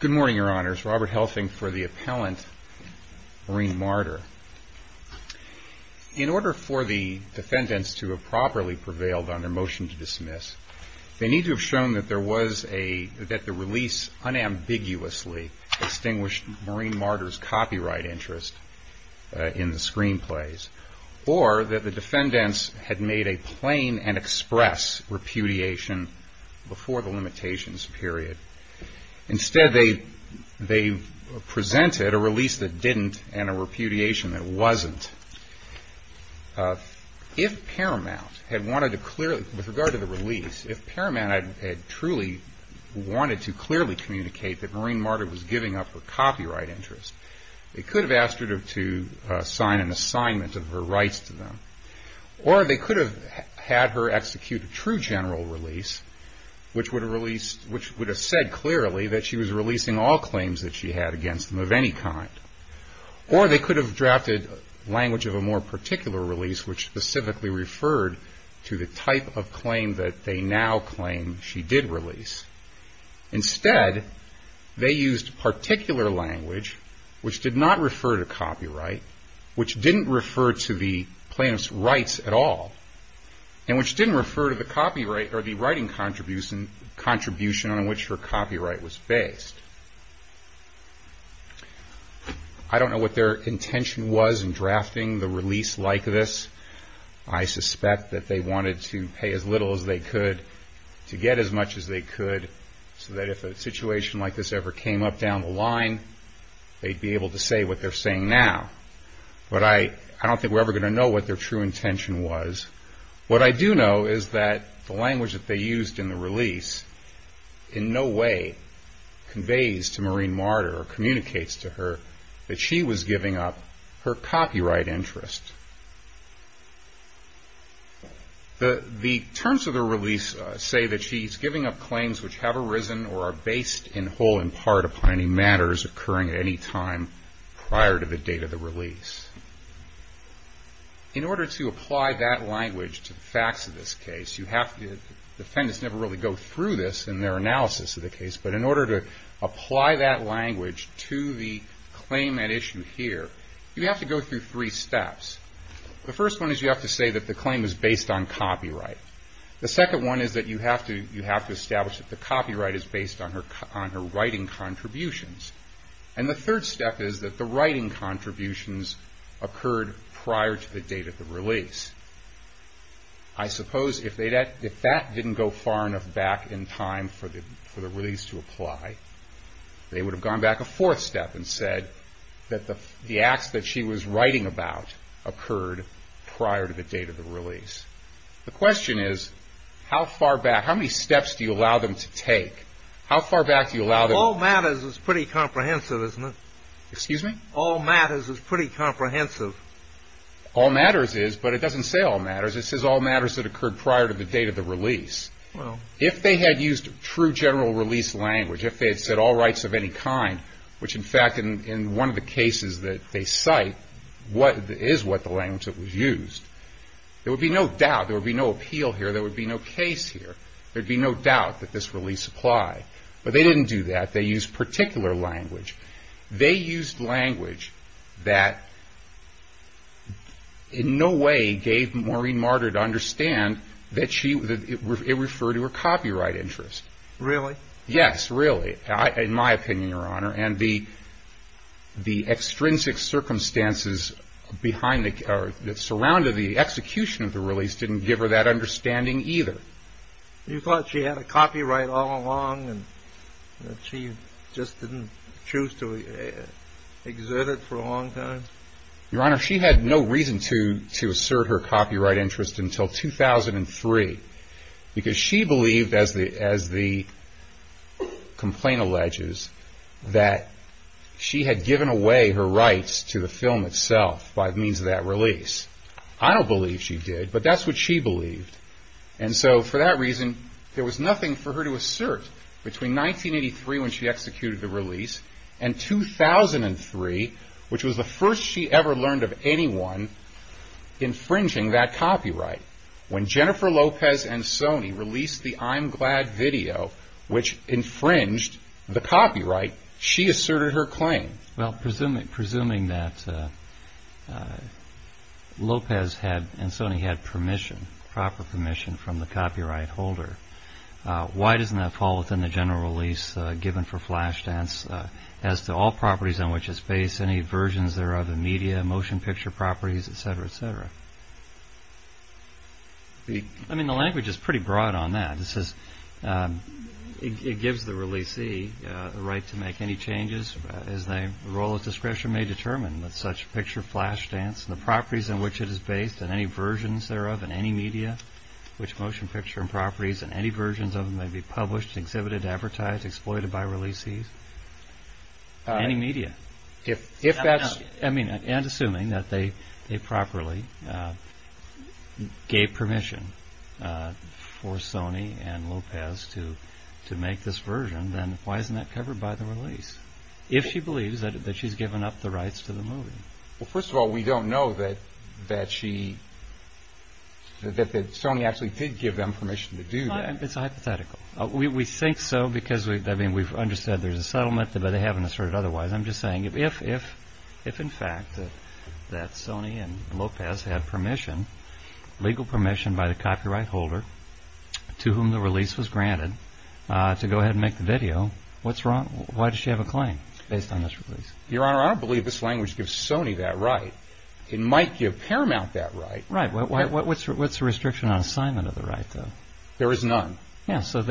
Good morning, Your Honors. Robert Helfing for the Appellant, Marine Martyr. In order for the defendants to have properly prevailed on their motion to dismiss, they need to have shown that the release unambiguously extinguished Marine Martyr's copyright interest in the screenplays, or that the defendants had made a plain and express repudiation before the limitations were met. Instead, they presented a release that didn't and a repudiation that wasn't. If Paramount had wanted to clearly, with regard to the release, if Paramount had truly wanted to clearly communicate that Marine Martyr was giving up her copyright interest, they could have asked her to sign an assignment of her rights to them. Or they could have had her execute a true general release, which would have said clearly that she was releasing all claims that she had against them of any kind. Or they could have drafted language of a more particular release, which specifically referred to the type of claim that they now claim she did release. Instead, they used particular language which did not refer to copyright, which didn't refer to the plaintiff's rights at all, and which didn't refer to the copyright or the writing contribution on which her copyright was based. I don't know what their intention was in drafting the release like this. I suspect that they wanted to pay as little as they could to get as much as they could, so that if a situation like this ever came up down the line, they'd be able to say what they're saying now. But I don't think we're ever going to know what their true intention was. What I do know is that the language that they used in the release in no way conveys to Marine Martyr or communicates to her that she was giving up her copyright interest. The terms of the release say that she's giving up claims which have arisen or are based in whole and part upon any matters occurring at any time prior to the date of the release. In order to apply that language to the facts of this case, the defendants never really go through this in their analysis of the case, but in order to apply that language to the claim at issue here, you have to go through three steps. The first one is you have to say that the claim is based on copyright. The second one is that you have to establish that the copyright is based on her writing contributions. And the third step is that the writing contributions occurred prior to the date of the release. I suppose if that didn't go far enough back in time for the release to apply, they would have gone back a fourth step and said that the acts that she was writing about occurred prior to the date of the release. The question is, how far back, how many steps do you allow them to take? All matters is pretty comprehensive, isn't it? Excuse me? All matters is pretty comprehensive. All matters is, but it doesn't say all matters. It says all matters that occurred prior to the date of the release. If they had used true general release language, if they had said all rights of any kind, which in fact in one of the cases that they cite is what the language that was used, there would be no doubt, there would be no appeal here, there would be no case here, there would be no doubt that this release applied. But they didn't do that. They used particular language. They used language that in no way gave Maureen Marder to understand that it referred to her copyright interest. Really? Yes, really. In my opinion, Your Honor. And the extrinsic circumstances that surrounded the execution of the release didn't give her that understanding either. You thought she had a copyright all along and that she just didn't choose to exert it for a long time? Your Honor, she had no reason to assert her copyright interest until 2003 because she believed, as the complaint alleges, that she had given away her rights to the film itself by means of that release. I don't believe she did, but that's what she believed. And so for that reason, there was nothing for her to assert between 1983 when she executed the release and 2003, which was the first she ever learned of anyone infringing that copyright. When Jennifer Lopez and Sony released the I'm Glad video, which infringed the copyright, she asserted her claim. Well, presuming that Lopez and Sony had permission, proper permission, from the copyright holder, why doesn't that fall within the general release given for Flashdance as to all properties on which it's based, any versions thereof in media, motion picture properties, etc., etc.? I mean, the language is pretty broad on that. This is it gives the releasee the right to make any changes as their role of discretion may determine that such picture Flashdance and the properties in which it is based and any versions thereof in any media, which motion picture and properties and any versions of them may be published, exhibited, advertised, exploited by releasees. I mean, and assuming that they properly gave permission for Sony and Lopez to make this version, then why isn't that covered by the release? If she believes that she's given up the rights to the movie? Well, first of all, we don't know that Sony actually did give them permission to do that. Well, it's hypothetical. We think so because, I mean, we've understood there's a settlement, but they haven't asserted otherwise. I'm just saying if in fact that Sony and Lopez had permission, legal permission by the copyright holder to whom the release was granted to go ahead and make the video, what's wrong? Why does she have a claim based on this release? Your Honor, I don't believe this language gives Sony that right. It might give Paramount that right. Right. What's the restriction on assignment of the right, though? There is none. Yeah, so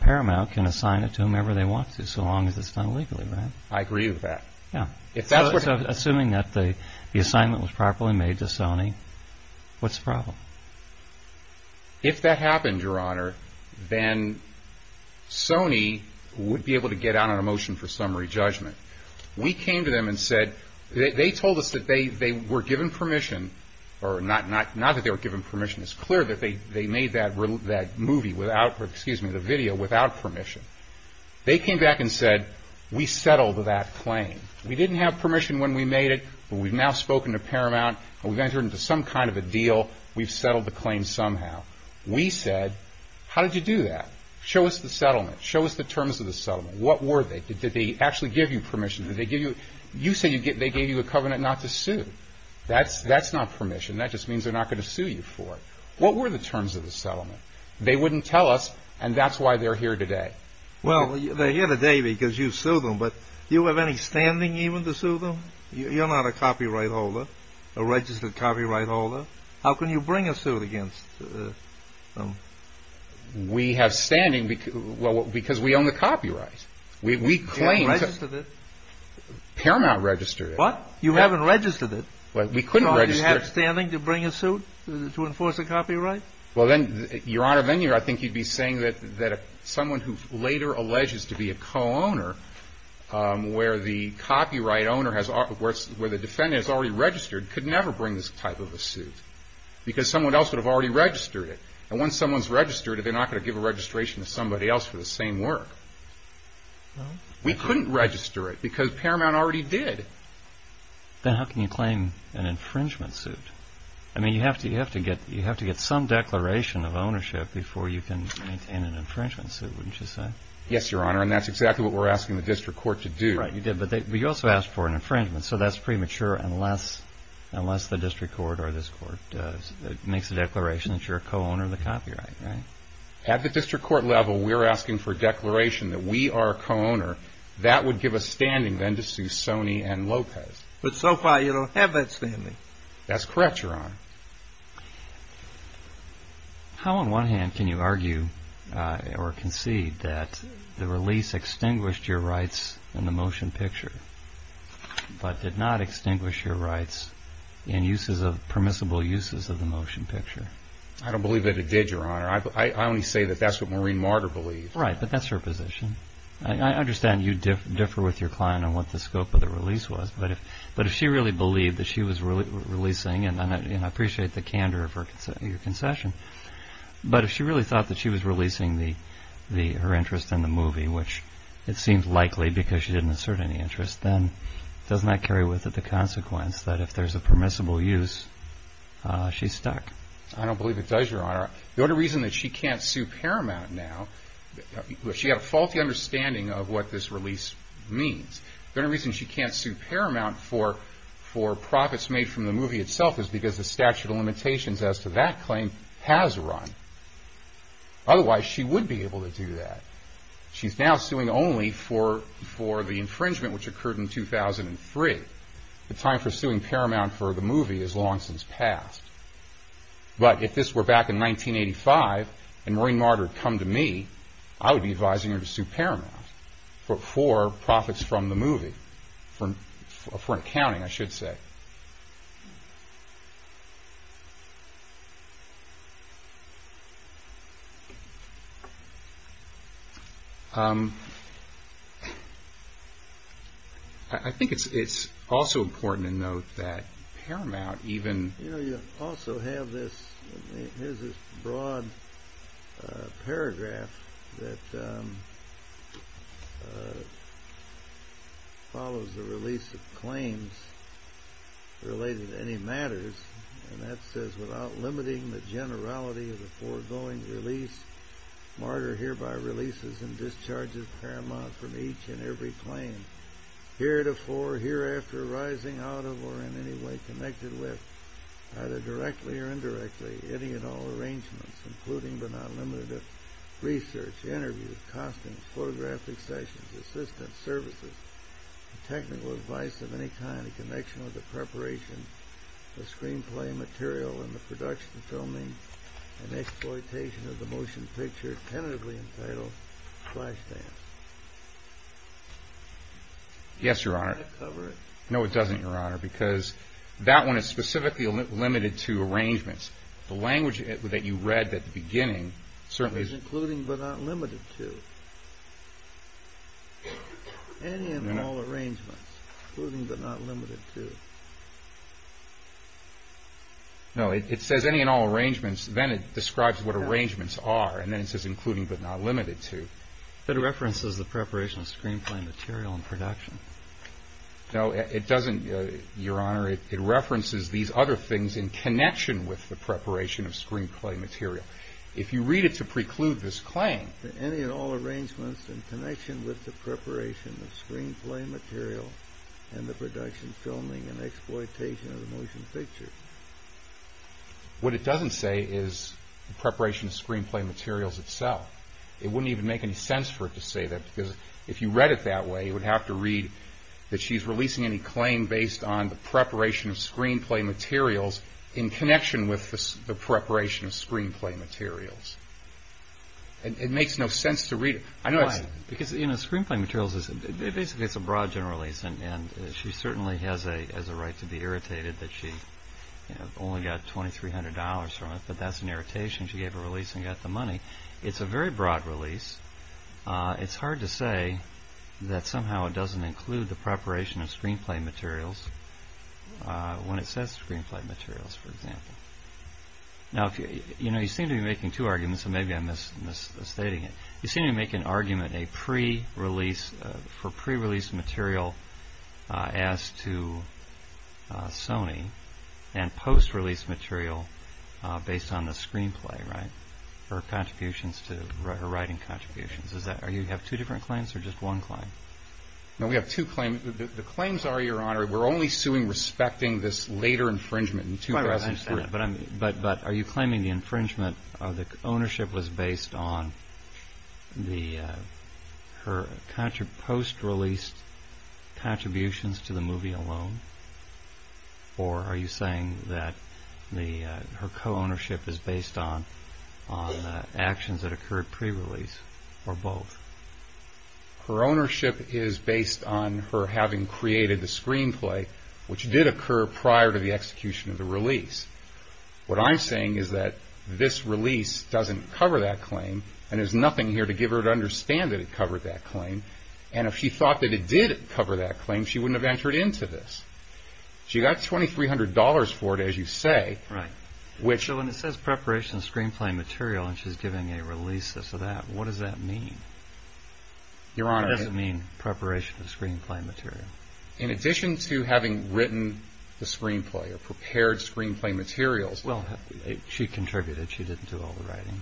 Paramount can assign it to whomever they want to so long as it's done legally, right? I agree with that. Yeah. Assuming that the assignment was properly made to Sony, what's the problem? If that happened, Your Honor, then Sony would be able to get out on a motion for summary judgment. We came to them and said, they told us that they were given permission, or not that they were given permission. It's clear that they made that movie without, excuse me, the video without permission. They came back and said, we settled that claim. We didn't have permission when we made it, but we've now spoken to Paramount and we've entered into some kind of a deal. We've settled the claim somehow. We said, how did you do that? Show us the settlement. Show us the terms of the settlement. What were they? Did they actually give you permission? Did they give you, you say they gave you a covenant not to sue. That's not permission. That just means they're not going to sue you for it. What were the terms of the settlement? They wouldn't tell us, and that's why they're here today. Well, they're here today because you sued them, but do you have any standing even to sue them? You're not a copyright holder, a registered copyright holder. How can you bring a suit against them? We have standing because we own the copyright. You haven't registered it. Paramount registered it. What? You haven't registered it. Well, we couldn't register it. Do you have standing to bring a suit to enforce a copyright? Well, then, Your Honor, then I think you'd be saying that someone who later alleges to be a co-owner where the copyright owner, where the defendant is already registered, could never bring this type of a suit because someone else would have already registered it. And once someone's registered, they're not going to give a registration to somebody else for the same work. No. We couldn't register it because Paramount already did. Then how can you claim an infringement suit? I mean, you have to get some declaration of ownership before you can maintain an infringement suit, wouldn't you say? Yes, Your Honor, and that's exactly what we're asking the district court to do. Right, you did, but you also asked for an infringement, so that's premature unless the district court or this court makes a declaration that you're a co-owner of the copyright, right? At the district court level, we're asking for a declaration that we are a co-owner. That would give us standing then to sue Sony and Lopez. But so far, you don't have that standing. That's correct, Your Honor. How, on one hand, can you argue or concede that the release extinguished your rights in the motion picture but did not extinguish your rights in permissible uses of the motion picture? I don't believe that it did, Your Honor. I only say that that's what Maureen Marder believed. Right, but that's her position. I understand you differ with your client on what the scope of the release was, but if she really believed that she was releasing, and I appreciate the candor of your concession, but if she really thought that she was releasing her interest in the movie, which it seems likely because she didn't assert any interest, then doesn't that carry with it the consequence that if there's a permissible use, she's stuck? I don't believe it does, Your Honor. The only reason that she can't sue Paramount now, she had a faulty understanding of what this release means. The only reason she can't sue Paramount for profits made from the movie itself is because the statute of limitations as to that claim has run. Otherwise, she would be able to do that. She's now suing only for the infringement, which occurred in 2003. The time for suing Paramount for the movie has long since passed. But if this were back in 1985, and Maureen Marder had come to me, I would be advising her to sue Paramount for profits from the movie, for accounting, I should say. I think it's also important to note that Paramount even... You know, you also have this broad paragraph that follows the release of claims related to any matters, and that says, Yes, Your Honor. No, it doesn't, Your Honor, because that one is specifically limited to arrangements. The language that you read at the beginning certainly is... Including but not limited to. Any and all arrangements. Including but not limited to. No, it says any and all arrangements. Then it describes what arrangements are, and then it says including but not limited to. But it references the preparation of screenplay material and production. No, it doesn't, Your Honor. It references these other things in connection with the preparation of screenplay material. If you read it to preclude this claim... Any and all arrangements in connection with the preparation of screenplay material and the production, filming, and exploitation of the motion picture. What it doesn't say is preparation of screenplay materials itself. It wouldn't even make any sense for it to say that, because if you read it that way, you would have to read that she's releasing any claim based on the preparation of screenplay materials in connection with the preparation of screenplay materials. It makes no sense to read it. Why? Because screenplay materials, basically it's a broad general release, and she certainly has a right to be irritated that she only got $2,300 from it, but that's an irritation. She gave a release and got the money. It's a very broad release. It's hard to say that somehow it doesn't include the preparation of screenplay materials when it says screenplay materials, for example. Now, you seem to be making two arguments, and maybe I'm misstating it. You seem to be making an argument for pre-release material as to Sony, and post-release material based on the screenplay, right, her writing contributions. Do you have two different claims or just one claim? No, we have two claims. The claims are, Your Honor, we're only suing respecting this later infringement. But are you claiming the infringement or the ownership was based on her post-release contributions to the movie alone, or are you saying that her co-ownership is based on actions that occurred pre-release or both? Her ownership is based on her having created the screenplay, which did occur prior to the execution of the release. What I'm saying is that this release doesn't cover that claim, and there's nothing here to give her to understand that it covered that claim. And if she thought that it did cover that claim, she wouldn't have entered into this. She got $2,300 for it, as you say. Right. So when it says preparation of screenplay material and she's giving a release of that, what does that mean? Your Honor, What does it mean, preparation of screenplay material? In addition to having written the screenplay or prepared screenplay materials, Well, she contributed. She didn't do all the writing.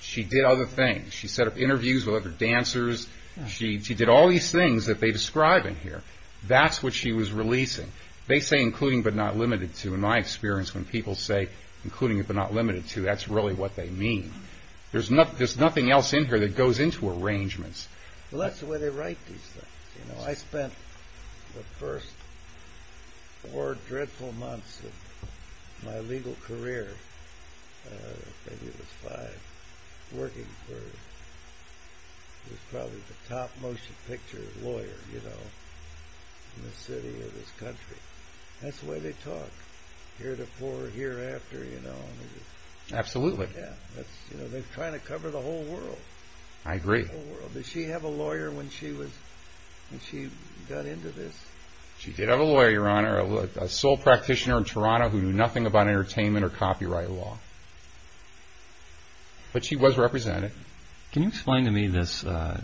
She did other things. She set up interviews with other dancers. She did all these things that they describe in here. That's what she was releasing. They say including but not limited to. In my experience, when people say including but not limited to, that's really what they mean. There's nothing else in here that goes into arrangements. Well, that's the way they write these things. I spent the first four dreadful months of my legal career, maybe it was five, working for probably the top motion picture lawyer in the city of this country. That's the way they talk. Here before, here after. Absolutely. They're trying to cover the whole world. I agree. Did she have a lawyer when she got into this? She did have a lawyer, Your Honor. A sole practitioner in Toronto who knew nothing about entertainment or copyright law. But she was represented. Can you explain to me the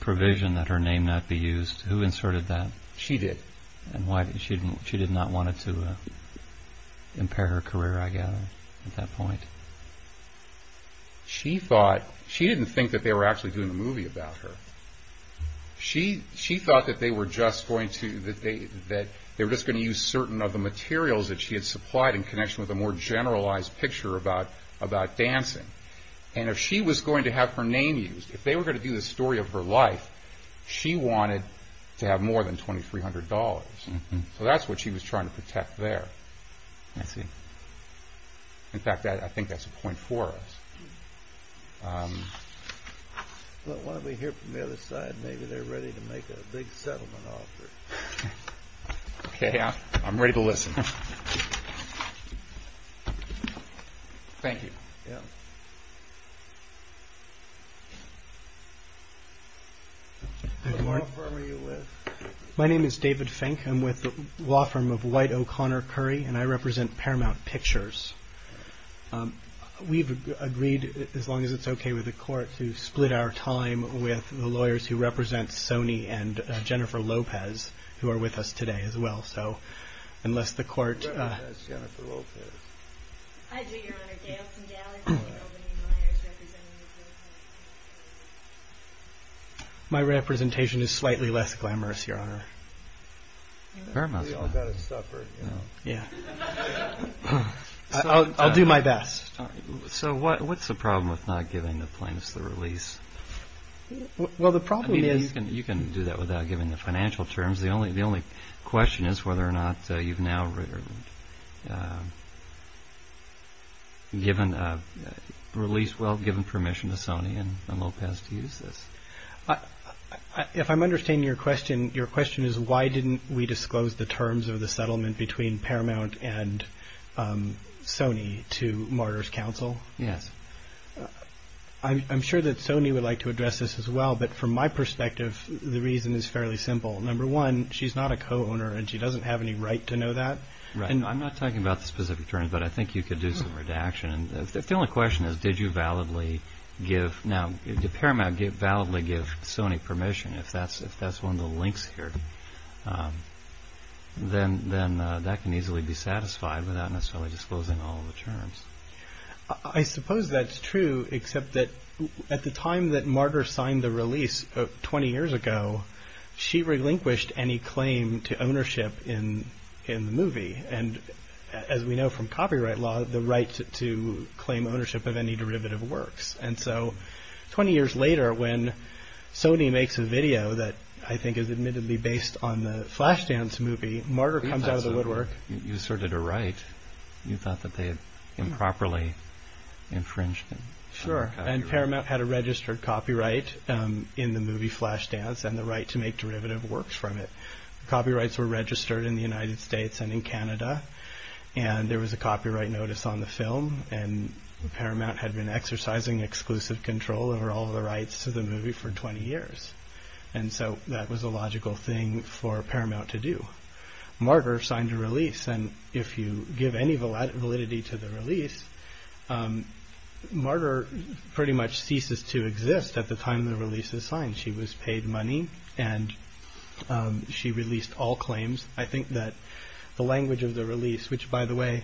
provision that her name not be used? Who inserted that? She did. Why did she not want to impair her career, I gather, at that point? She didn't think that they were actually doing a movie about her. She thought that they were just going to use certain of the materials that she had supplied in connection with a more generalized picture about dancing. And if she was going to have her name used, if they were going to do the story of her life, she wanted to have more than $2,300. So that's what she was trying to protect there. I see. In fact, I think that's a point for us. Why don't we hear from the other side? Maybe they're ready to make a big settlement offer. Okay, I'm ready to listen. Thank you. What law firm are you with? My name is David Fink. I'm with the law firm of White O'Connor Curry, and I represent Paramount Pictures. We've agreed, as long as it's okay with the court, to split our time with the lawyers who represent Sony and Jennifer Lopez, who are with us today as well. Who represents Jennifer Lopez? I do, Your Honor. Gail Sindelic and Albany Myers represent Jennifer Lopez. My representation is slightly less glamorous, Your Honor. We all got to suffer. Yeah. I'll do my best. What's the problem with not giving the plaintiffs the release? Well, the problem is... You can do that without giving the financial terms. The only question is whether or not you've now released, well, given permission to Sony and Lopez to use this. If I'm understanding your question, your question is why didn't we disclose the terms of the settlement between Paramount and Sony to Martyrs Council? Yes. I'm sure that Sony would like to address this as well, but from my perspective, the reason is fairly simple. Number one, she's not a co-owner, and she doesn't have any right to know that. I'm not talking about the specific terms, but I think you could do some redaction. If the only question is, did you validly give... Now, did Paramount validly give Sony permission? If that's one of the links here, then that can easily be satisfied without necessarily disclosing all the terms. I suppose that's true, except that at the time that Martyr signed the release 20 years ago, she relinquished any claim to ownership in the movie, and as we know from copyright law, the right to claim ownership of any derivative works. And so 20 years later, when Sony makes a video that I think is admittedly based on the Flashdance movie, Martyr comes out of the woodwork... You asserted a right. You thought that they had improperly infringed it. Sure, and Paramount had a registered copyright in the movie Flashdance and the right to make derivative works from it. Copyrights were registered in the United States and in Canada, and there was a copyright notice on the film, and Paramount had been exercising exclusive control over all the rights to the movie for 20 years. And so that was a logical thing for Paramount to do. Martyr signed a release, and if you give any validity to the release, Martyr pretty much ceases to exist at the time the release is signed. She was paid money, and she released all claims. I think that the language of the release, which, by the way,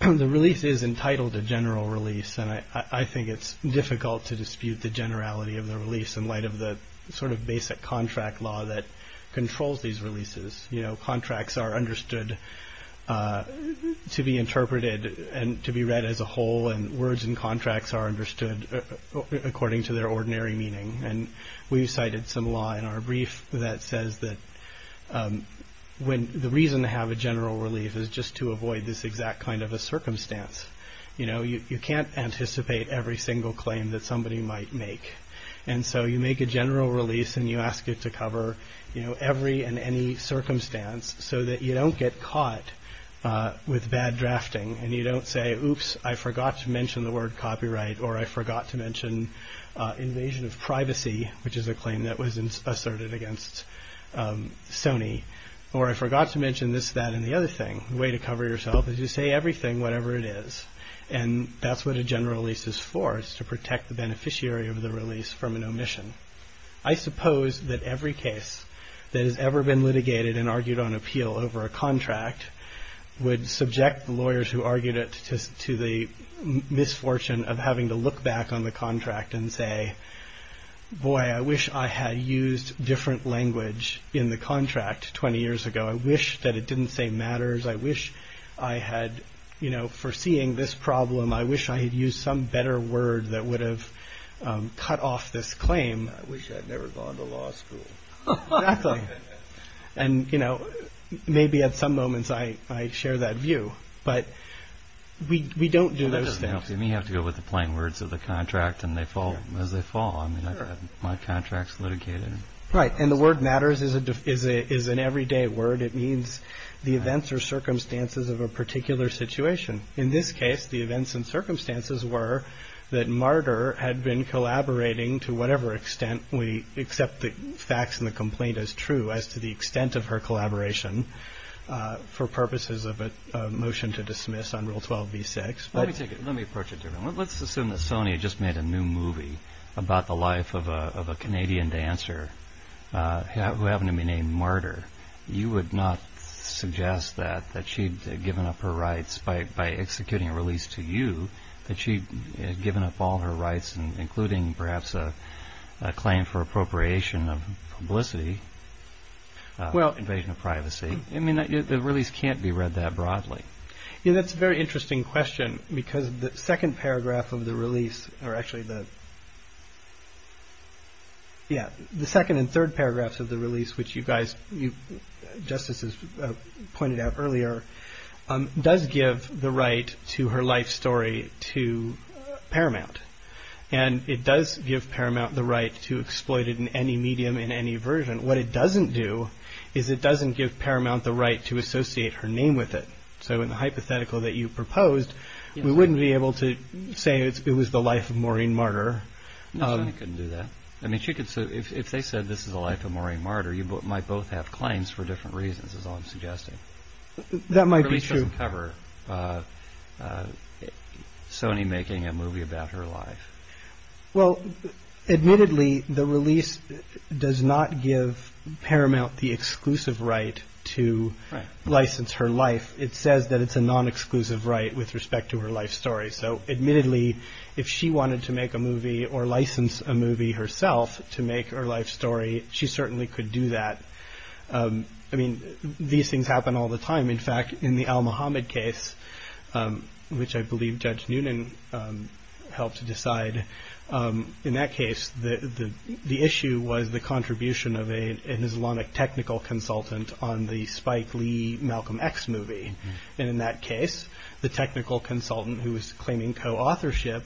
the release is entitled a general release, and I think it's difficult to dispute the generality of the release in light of the sort of basic contract law that controls these releases. You know, contracts are understood to be interpreted and to be read as a whole, and words in contracts are understood according to their ordinary meaning. And we've cited some law in our brief that says that the reason to have a general release is just to avoid this exact kind of a circumstance. You know, you can't anticipate every single claim that somebody might make. And so you make a general release, and you ask it to cover, you know, every and any circumstance so that you don't get caught with bad drafting, and you don't say, oops, I forgot to mention the word copyright, or I forgot to mention invasion of privacy, which is a claim that was asserted against Sony, or I forgot to mention this, that, and the other thing. The way to cover yourself is you say everything, whatever it is. And that's what a general release is for, is to protect the beneficiary of the release from an omission. I suppose that every case that has ever been litigated and argued on appeal over a contract would subject the lawyers who argued it to the misfortune of having to look back on the contract and say, boy, I wish I had used different language in the contract 20 years ago. I wish that it didn't say matters. I wish I had, you know, foreseeing this problem, I wish I had used some better word that would have cut off this claim. I wish I had never gone to law school. Exactly. And, you know, maybe at some moments I share that view. But we don't do those things. You may have to go with the plain words of the contract as they fall. I mean, I've had my contracts litigated. Right, and the word matters is an everyday word. It means the events or circumstances of a particular situation. In this case, the events and circumstances were that Martyr had been collaborating to whatever extent we accept the facts in the complaint as true as to the extent of her collaboration for purposes of a motion to dismiss on Rule 12b-6. Let me approach it differently. Let's assume that Sony just made a new movie about the life of a Canadian dancer who happened to be named Martyr. You would not suggest that she'd given up her rights by executing a release to you, that she'd given up all her rights including perhaps a claim for appropriation of publicity, invasion of privacy. I mean, the release can't be read that broadly. That's a very interesting question because the second paragraph of the release, or actually the second and third paragraphs of the release which you guys, you justices pointed out earlier, does give the right to her life story to Paramount. And it does give Paramount the right to exploit it in any medium in any version. What it doesn't do is it doesn't give Paramount the right to associate her name with it. So in the hypothetical that you proposed, we wouldn't be able to say it was the life of Maureen Martyr. No, Sony couldn't do that. I mean, if they said this is the life of Maureen Martyr, you might both have claims for different reasons is all I'm suggesting. That might be true. The release doesn't cover Sony making a movie about her life. Well, admittedly, the release does not give Paramount the exclusive right to license her life. It says that it's a non-exclusive right with respect to her life story. So admittedly, if she wanted to make a movie or license a movie herself to make her life story, she certainly could do that. I mean, these things happen all the time. In fact, in the al-Muhammad case, which I believe Judge Noonan helped to decide, in that case, the issue was the contribution of an Islamic technical consultant on the Spike Lee, Malcolm X movie. And in that case, the technical consultant, who was claiming co-authorship,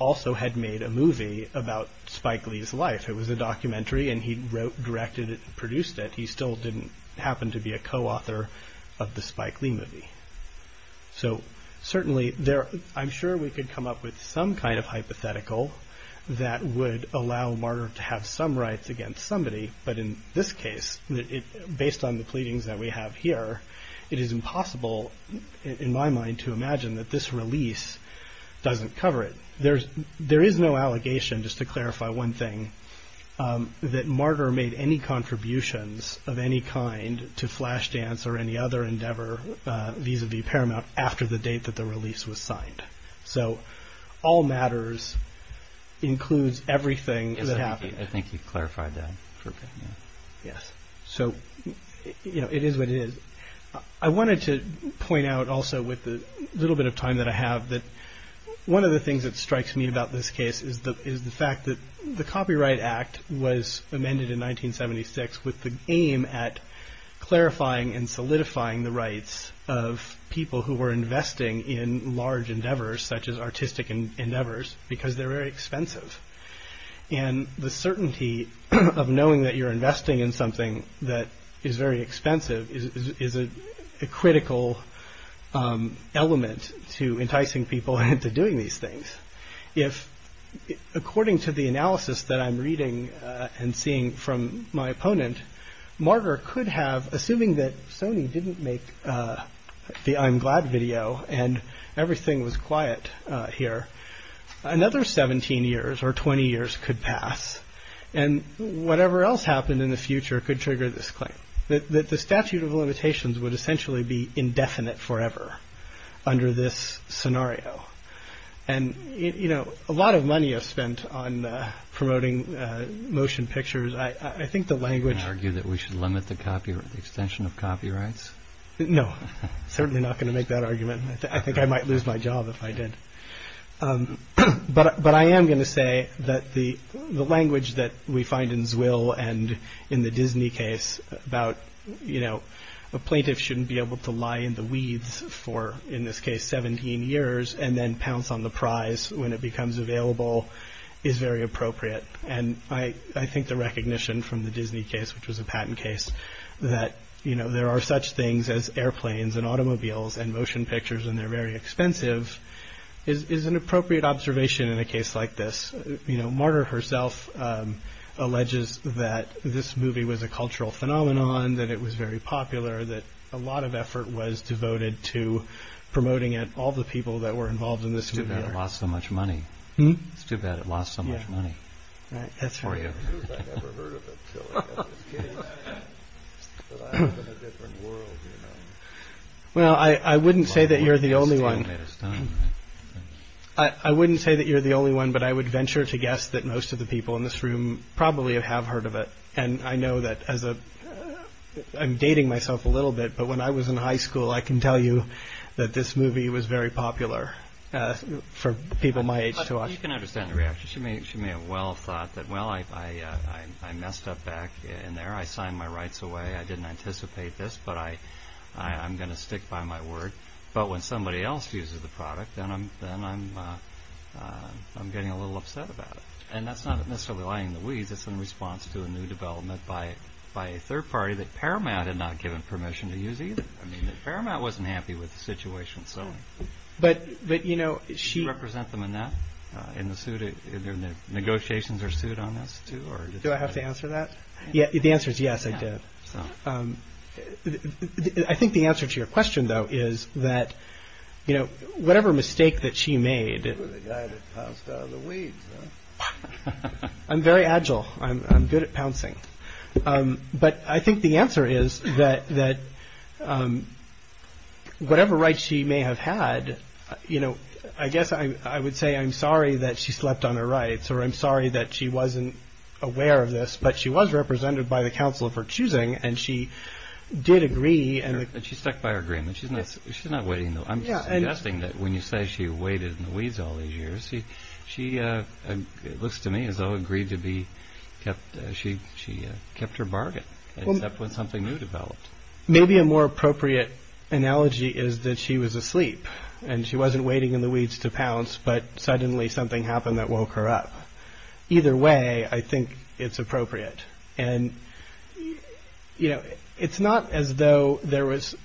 also had made a movie about Spike Lee's life. It was a documentary, and he wrote, directed it, produced it. He still didn't happen to be a co-author of the Spike Lee movie. So certainly, I'm sure we could come up with some kind of hypothetical that would allow Martyr to have some rights against somebody. But in this case, based on the pleadings that we have here, it is impossible, in my mind, to imagine that this release doesn't cover it. There is no allegation, just to clarify one thing, that Martyr made any contributions of any kind to Flashdance or any other endeavor vis-à-vis Paramount after the date that the release was signed. So all matters includes everything that happened. Yes, I think you've clarified that. Yes, so it is what it is. I wanted to point out also, with the little bit of time that I have, that one of the things that strikes me about this case is the fact that the Copyright Act was amended in 1976 with the aim at clarifying and solidifying the rights of people who were investing in large endeavors, such as artistic endeavors, because they're very expensive. And the certainty of knowing that you're investing in something that is very expensive is a critical element to enticing people into doing these things. According to the analysis that I'm reading and seeing from my opponent, Martyr could have, assuming that Sony didn't make the I'm Glad video and everything was quiet here, another 17 years or 20 years could pass, and whatever else happened in the future could trigger this claim, that the statute of limitations would essentially be indefinite forever under this scenario. And, you know, a lot of money is spent on promoting motion pictures. I think the language... Do you argue that we should limit the extension of copyrights? No, certainly not going to make that argument. I think I might lose my job if I did. But I am going to say that the language that we find in Zwil and in the Disney case about, you know, a plaintiff shouldn't be able to lie in the weeds for, in this case, 17 years and then pounce on the prize when it becomes available is very appropriate. And I think the recognition from the Disney case, which was a patent case, that, you know, there are such things as airplanes and automobiles and motion pictures and they're very expensive, is an appropriate observation in a case like this. You know, Marder herself alleges that this movie was a cultural phenomenon, that it was very popular, that a lot of effort was devoted to promoting it, all the people that were involved in this movie. It's too bad it lost so much money. It's too bad it lost so much money. That's right. I never heard of it until I was a kid. But I live in a different world, you know. Well, I wouldn't say that you're the only one. I wouldn't say that you're the only one, but I would venture to guess that most of the people in this room probably have heard of it. And I know that I'm dating myself a little bit, but when I was in high school, I can tell you that this movie was very popular for people my age to watch. You can understand the reaction. She may have well thought that, well, I messed up back in there. I signed my rights away. I didn't anticipate this, but I'm going to stick by my word. But when somebody else uses the product, then I'm getting a little upset about it. And that's not necessarily lining the weeds. It's in response to a new development by a third party that Paramount had not given permission to use either. I mean, that Paramount wasn't happy with the situation, so. But, you know, she... Did she represent them enough in the negotiations or suit on this, too? Do I have to answer that? The answer is yes, I did. I think the answer to your question, though, is that, you know, whatever mistake that she made. I'm very agile. I'm good at pouncing. But I think the answer is that whatever right she may have had, you know, I guess I would say I'm sorry that she slept on her rights or I'm sorry that she wasn't aware of this. But she was represented by the council of her choosing, and she did agree. And she stuck by her agreement. She's not waiting, though. I'm suggesting that when you say she waited in the weeds all these years, she looks to me as though agreed to be kept... She kept her bargain, except when something new developed. Maybe a more appropriate analogy is that she was asleep, and she wasn't waiting in the weeds to pounce, but suddenly something happened that woke her up. Either way, I think it's appropriate. And, you know, it's not as though there was...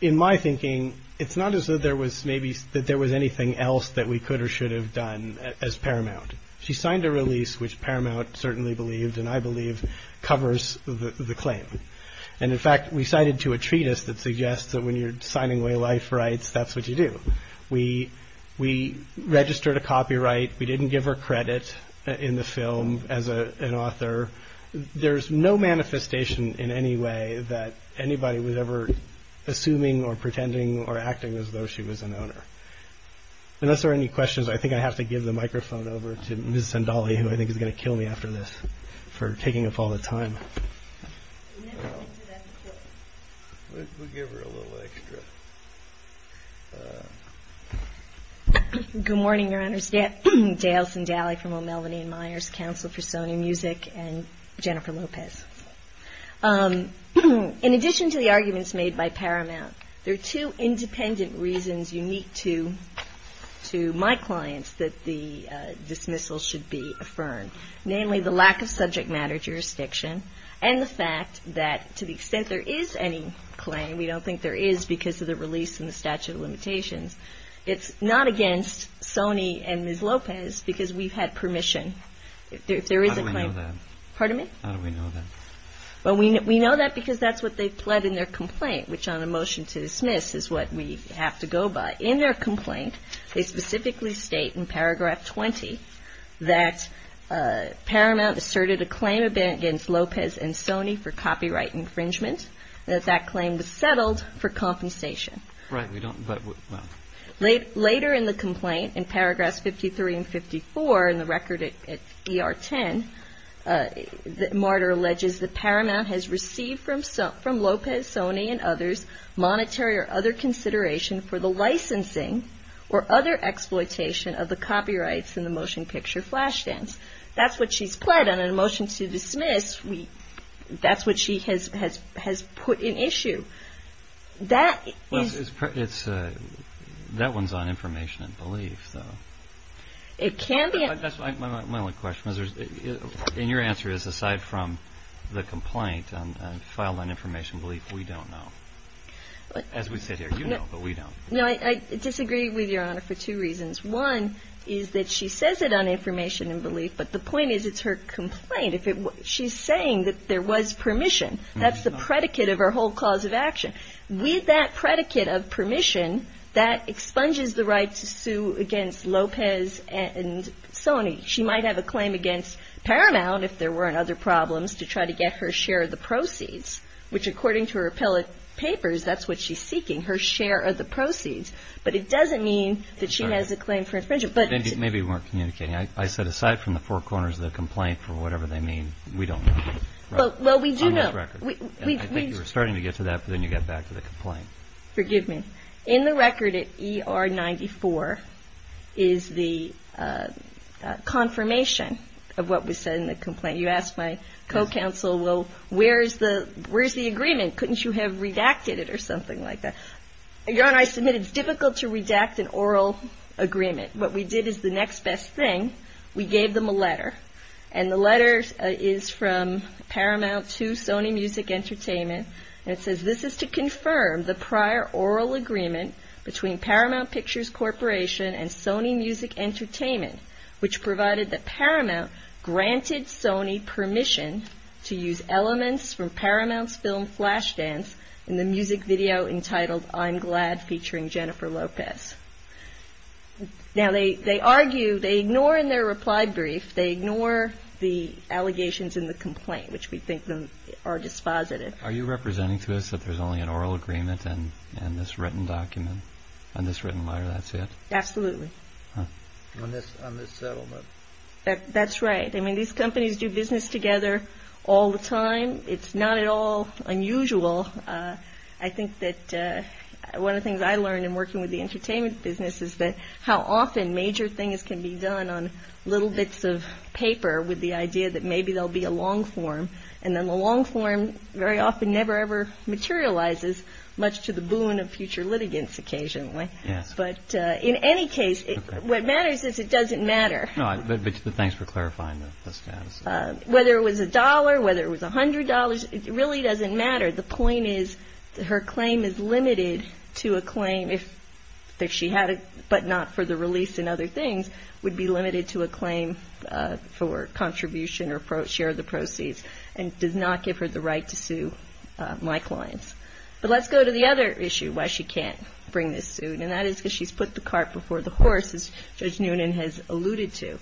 In my thinking, it's not as though there was maybe... that there was anything else that we could or should have done as Paramount. She signed a release, which Paramount certainly believed, and I believe, covers the claim. And, in fact, we cited to a treatise that suggests that when you're signing away life rights, that's what you do. We registered a copyright. We didn't give her credit in the film as an author. There's no manifestation in any way that anybody was ever assuming or pretending or acting as though she was an owner. Unless there are any questions, I think I have to give the microphone over to Ms. Sandali, who I think is going to kill me after this for taking up all the time. We'll give her a little extra. Good morning, Your Honors. Dale Sandali from O'Melanie and Myers Council for Sony Music and Jennifer Lopez. In addition to the arguments made by Paramount, there are two independent reasons unique to my clients that the dismissal should be affirmed. Namely, the lack of subject matter jurisdiction and the fact that to the extent there is any claim, and we don't think there is because of the release and the statute of limitations, it's not against Sony and Ms. Lopez because we've had permission. How do we know that? Pardon me? How do we know that? Well, we know that because that's what they pled in their complaint, which on a motion to dismiss is what we have to go by. In their complaint, they specifically state in paragraph 20 that Paramount asserted a claim against Lopez and Sony for copyright infringement and that that claim was settled for compensation. Right, but we don't, well. Later in the complaint, in paragraphs 53 and 54 in the record at ER 10, that Martyr alleges that Paramount has received from Lopez, Sony, and others, monetary or other consideration for the licensing or other exploitation of the copyrights in the motion picture flash dance. That's what she's pled on a motion to dismiss. That's what she has put in issue. That is. That one's on information and belief, though. It can be. That's my only question. And your answer is aside from the complaint and file on information and belief, we don't know. As we sit here, you know, but we don't. No, I disagree with Your Honor for two reasons. One is that she says it on information and belief, but the point is it's her complaint. She's saying that there was permission. That's the predicate of her whole cause of action. With that predicate of permission, that expunges the right to sue against Lopez and Sony. She might have a claim against Paramount, if there weren't other problems, to try to get her share of the proceeds, which according to her appellate papers, that's what she's seeking, her share of the proceeds. But it doesn't mean that she has a claim for infringement. Maybe we weren't communicating. I said aside from the four corners of the complaint for whatever they mean, we don't know. Well, we do know. On this record. I think you were starting to get to that, but then you got back to the complaint. Forgive me. In the record at ER 94 is the confirmation of what was said in the complaint. You asked my co-counsel, well, where's the agreement? Couldn't you have redacted it or something like that? Your Honor, I submit it's difficult to redact an oral agreement. What we did is the next best thing. We gave them a letter, and the letter is from Paramount to Sony Music Entertainment, and it says this is to confirm the prior oral agreement between Paramount Pictures Corporation and Sony Music Entertainment, which provided that Paramount granted Sony permission to use elements from Paramount's film Flashdance in the music video entitled I'm Glad featuring Jennifer Lopez. Now, they argue, they ignore in their reply brief, they ignore the allegations in the complaint, which we think are dispositive. Are you representing to us that there's only an oral agreement and this written document, and this written letter, that's it? Absolutely. On this settlement. That's right. I mean, these companies do business together all the time. It's not at all unusual. I think that one of the things I learned in working with the entertainment business is that how often major things can be done on little bits of paper with the idea that maybe there'll be a long form, and then the long form very often never, ever materializes, much to the boon of future litigants occasionally. Yes. But in any case, what matters is it doesn't matter. No, but thanks for clarifying the status. Whether it was a dollar, whether it was $100, it really doesn't matter. The point is her claim is limited to a claim if she had it, but not for the release and other things, would be limited to a claim for contribution or share of the proceeds and does not give her the right to sue my clients. But let's go to the other issue why she can't bring this suit, and that is because she's put the cart before the horse, as Judge Noonan has alluded to.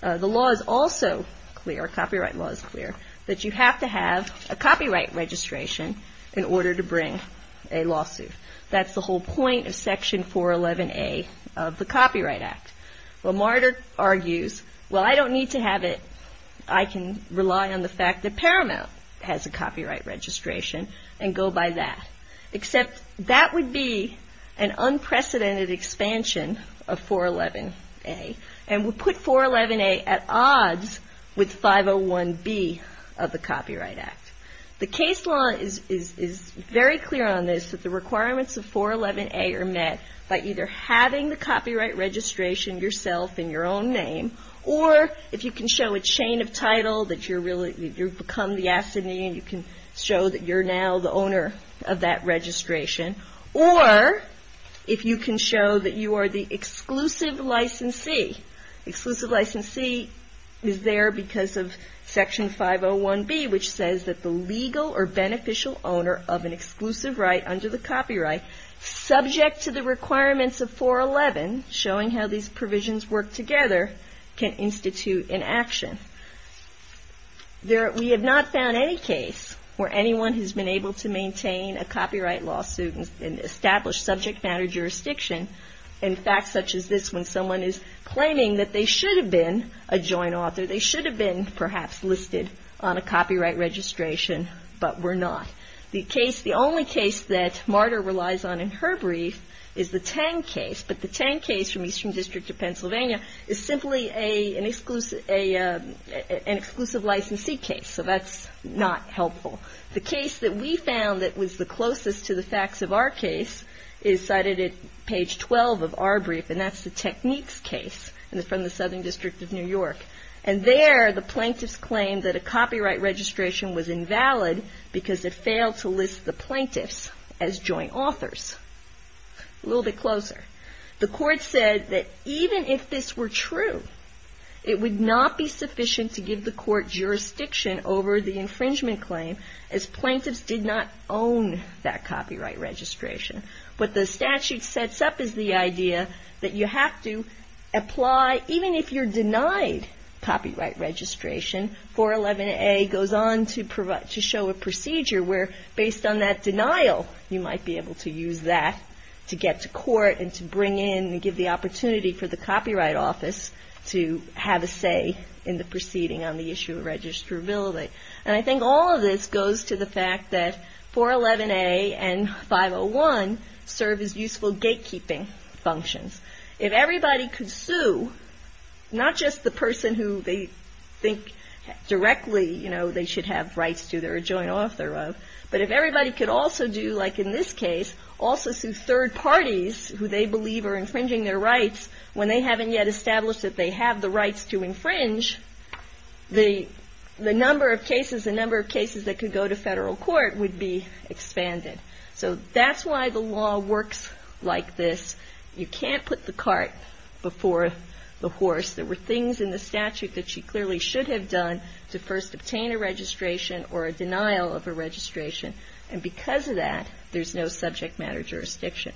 The law is also clear, copyright law is clear, that you have to have a copyright registration in order to bring a lawsuit. That's the whole point of Section 411A of the Copyright Act. Well, Marder argues, well, I don't need to have it. I can rely on the fact that Paramount has a copyright registration and go by that. Except that would be an unprecedented expansion of 411A, and would put 411A at odds with 501B of the Copyright Act. The case law is very clear on this, that the requirements of 411A are met by either having the copyright registration yourself in your own name, or if you can show a chain of title that you've become the affidavit, and you can show that you're now the owner of that registration. Or, if you can show that you are the exclusive licensee. The exclusive licensee is there because of Section 501B, which says that the legal or beneficial owner of an exclusive right under the copyright, subject to the requirements of 411, showing how these provisions work together, can institute an action. We have not found any case where anyone has been able to maintain a copyright lawsuit and establish subject matter jurisdiction in facts such as this, when someone is claiming that they should have been a joint author. They should have been, perhaps, listed on a copyright registration, but were not. The case, the only case that Marder relies on in her brief is the Tang case, but the Tang case from Eastern District of Pennsylvania is simply an exclusive licensee case, so that's not helpful. The case that we found that was the closest to the facts of our case is cited at page 12 of our brief, and that's the Techniques case from the Southern District of New York. And there, the plaintiffs claim that a copyright registration was invalid because it failed to list the plaintiffs as joint authors. A little bit closer. The court said that even if this were true, it would not be sufficient to give the court jurisdiction over the infringement claim, as plaintiffs did not own that copyright registration. What the statute sets up is the idea that you have to apply, even if you're denied copyright registration, 411A goes on to show a procedure where, based on that denial, you might be able to use that to get to court and to bring in and give the opportunity for the Copyright Office to have a say in the proceeding on the issue of registrability. And I think all of this goes to the fact that 411A and 501 serve as useful gatekeeping functions. If everybody could sue, not just the person who they think directly, you know, they should have rights to, they're a joint author of, but if everybody could also do, like in this case, also sue third parties who they believe are infringing their rights when they haven't yet established that they have the rights to infringe, the number of cases, the number of cases that could go to federal court would be expanded. So that's why the law works like this. You can't put the cart before the horse. There were things in the statute that she clearly should have done to first obtain a registration or a denial of a registration, and because of that, there's no subject matter jurisdiction.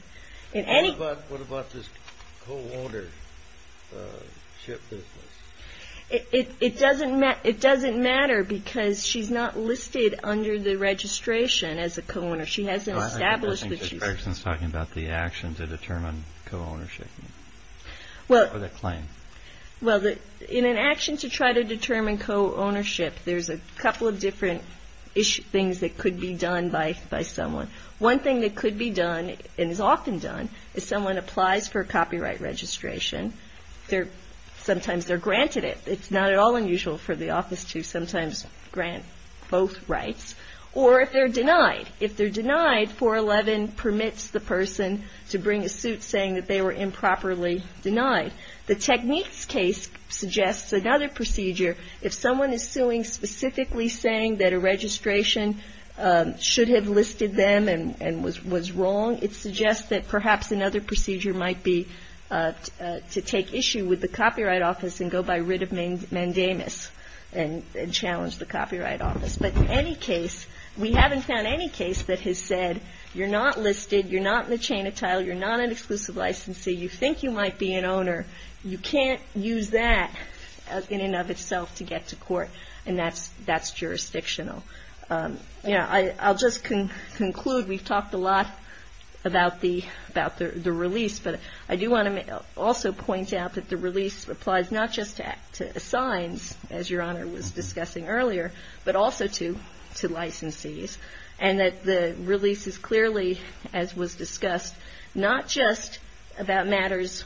What about this co-ownership business? It doesn't matter because she's not listed under the registration as a co-owner. She hasn't established that she's a co-owner. I think she's talking about the action to determine co-ownership or the claim. Well, in an action to try to determine co-ownership, there's a couple of different things that could be done by someone. One thing that could be done and is often done is someone applies for a copyright registration. Sometimes they're granted it. It's not at all unusual for the office to sometimes grant both rights, or if they're denied. If they're denied, 411 permits the person to bring a suit saying that they were improperly denied. The techniques case suggests another procedure. If someone is suing specifically saying that a registration should have listed them and was wrong, it suggests that perhaps another procedure might be to take issue with the Copyright Office and go by writ of mandamus and challenge the Copyright Office. But in any case, we haven't found any case that has said you're not listed, you're not in the chain of title, you're not an exclusive licensee, you think you might be an owner. You can't use that in and of itself to get to court, and that's jurisdictional. You know, I'll just conclude. We've talked a lot about the release, but I do want to also point out that the release applies not just to assigns, as Your Honor was discussing earlier, but also to licensees, and that the release is clearly, as was discussed, not just about matters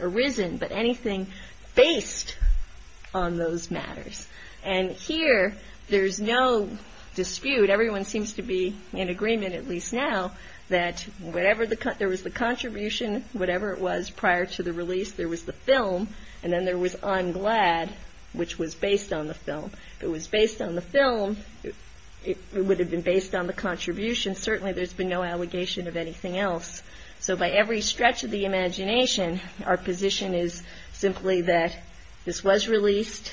arisen, but anything based on those matters. And here, there's no dispute. Everyone seems to be in agreement, at least now, that whatever the, there was the contribution, whatever it was prior to the release, there was the film, and then there was I'm Glad, which was based on the film. If it was based on the film, it would have been based on the contribution. Certainly, there's been no allegation of anything else. So by every stretch of the imagination, our position is simply that this was released.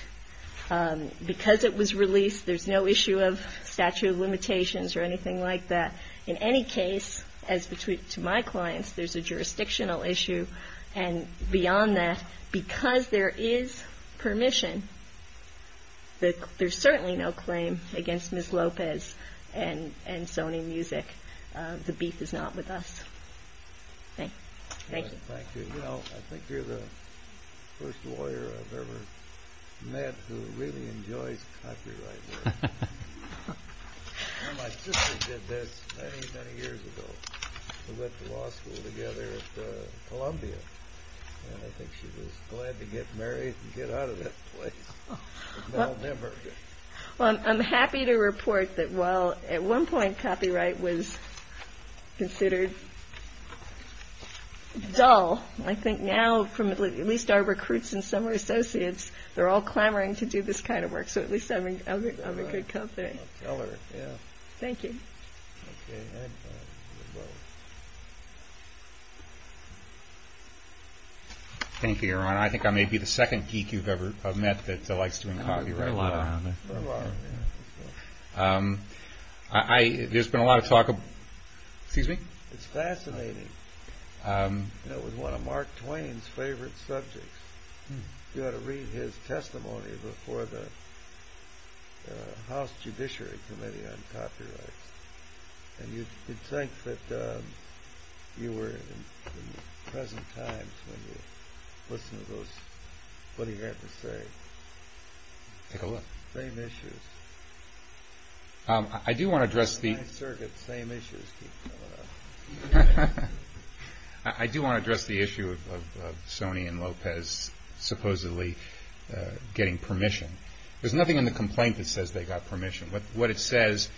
Because it was released, there's no issue of statute of limitations or anything like that. In any case, as to my clients, there's a jurisdictional issue. And beyond that, because there is permission, there's certainly no claim against Ms. Lopez and Sony Music. The beef is not with us. Thank you. I think you're the first lawyer I've ever met who really enjoys copyright work. My sister did this many, many years ago. We went to law school together at Columbia. And I think she was glad to get married and get out of that place. Well, I'm happy to report that while at one point copyright was considered dull, I think now, from at least our recruits and some of our associates, they're all clamoring to do this kind of work. So at least I'm a good company. Thank you. Thank you, Your Honor. I think I may be the second geek you've ever met that likes doing copyright work. It's fascinating. It was one of Mark Twain's favorite subjects. You ought to read his testimony before the House Judiciary Committee on Copyrights. And you'd think that you were in present times when you listened to what he had to say. Take a look. Same issues. I do want to address the issue of Sonny and Lopez supposedly getting permission. There's nothing in the complaint that says they got permission. What it says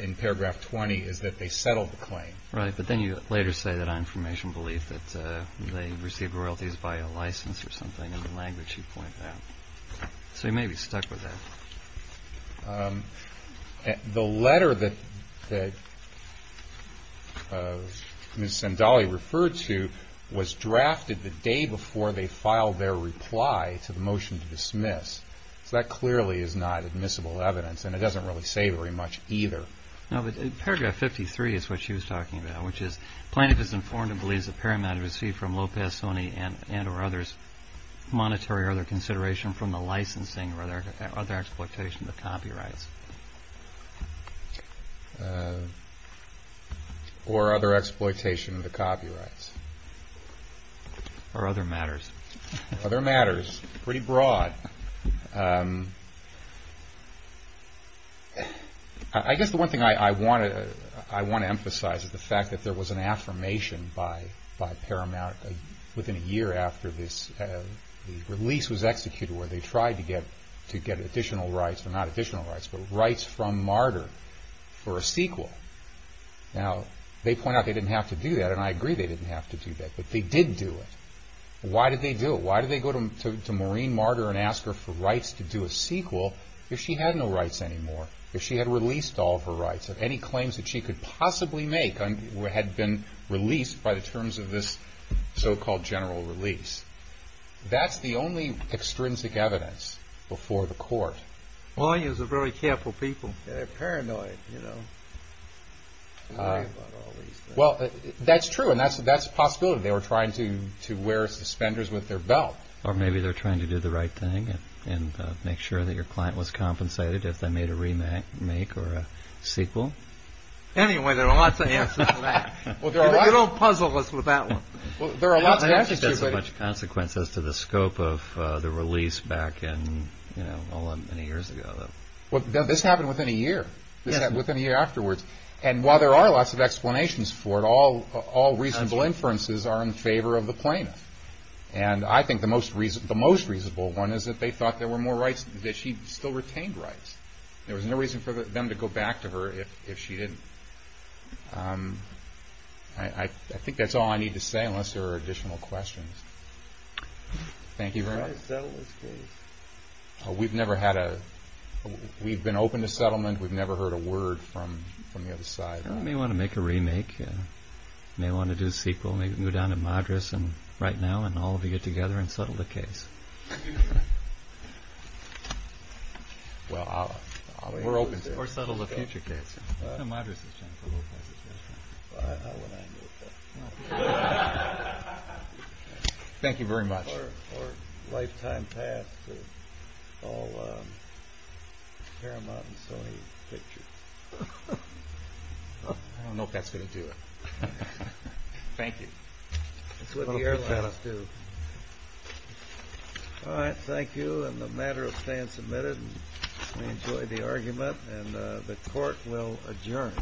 in paragraph 20 is that they settled the claim. Right, but then you later say that on information belief that they received royalties by a license or something in the language you point out. So you may be stuck with that. The letter that Ms. Sandali referred to was drafted the day before they filed their reply to the motion to dismiss. So that clearly is not admissible evidence, and it doesn't really say very much either. No, but paragraph 53 is what she was talking about, which is Plaintiff is informed and believes that Paramount received from Lopez, Sonny, and or others monetary or other consideration from the licensing or other exploitation of the copyrights. Or other exploitation of the copyrights. Or other matters. Pretty broad. I guess the one thing I want to emphasize is the fact that there was an affirmation by Paramount within a year after this release was executed where they tried to get additional rights. Well, not additional rights, but rights from Martyr for a sequel. Now, they point out they didn't have to do that, and I agree they didn't have to do that, but they did do it. Why did they do it? Why did they go to Maureen Martyr and ask her for rights to do a sequel if she had no rights anymore? If she had released all of her rights? If any claims that she could possibly make had been released by the terms of this so-called general release? That's the only extrinsic evidence before the court. Lawyers are very careful people. They're paranoid. Well, that's true, and that's a possibility. They were trying to wear suspenders with their belt. Or maybe they were trying to do the right thing and make sure that your client was compensated if they made a remake or a sequel. Anyway, there are lots of answers to that. You don't puzzle us with that one. I don't think there's much consequence as to the scope of the release back many years ago. Well, this happened within a year, within a year afterwards. And while there are lots of explanations for it, all reasonable inferences are in favor of the plaintiff. And I think the most reasonable one is that they thought there were more rights, that she still retained rights. There was no reason for them to go back to her if she didn't. I think that's all I need to say, unless there are additional questions. Thank you very much. We've been open to settlement. We've never heard a word from the other side. I may want to make a remake. I may want to do a sequel. Maybe we can go down to Madras right now and all of you get together and settle the case. We're open to it. Or settle a future case. Thank you very much. Or lifetime pass to all Paramount and Sony pictures. I don't know if that's going to do it. Thank you. Thank you. And the matter of staying submitted. We enjoyed the argument. And the court will adjourn.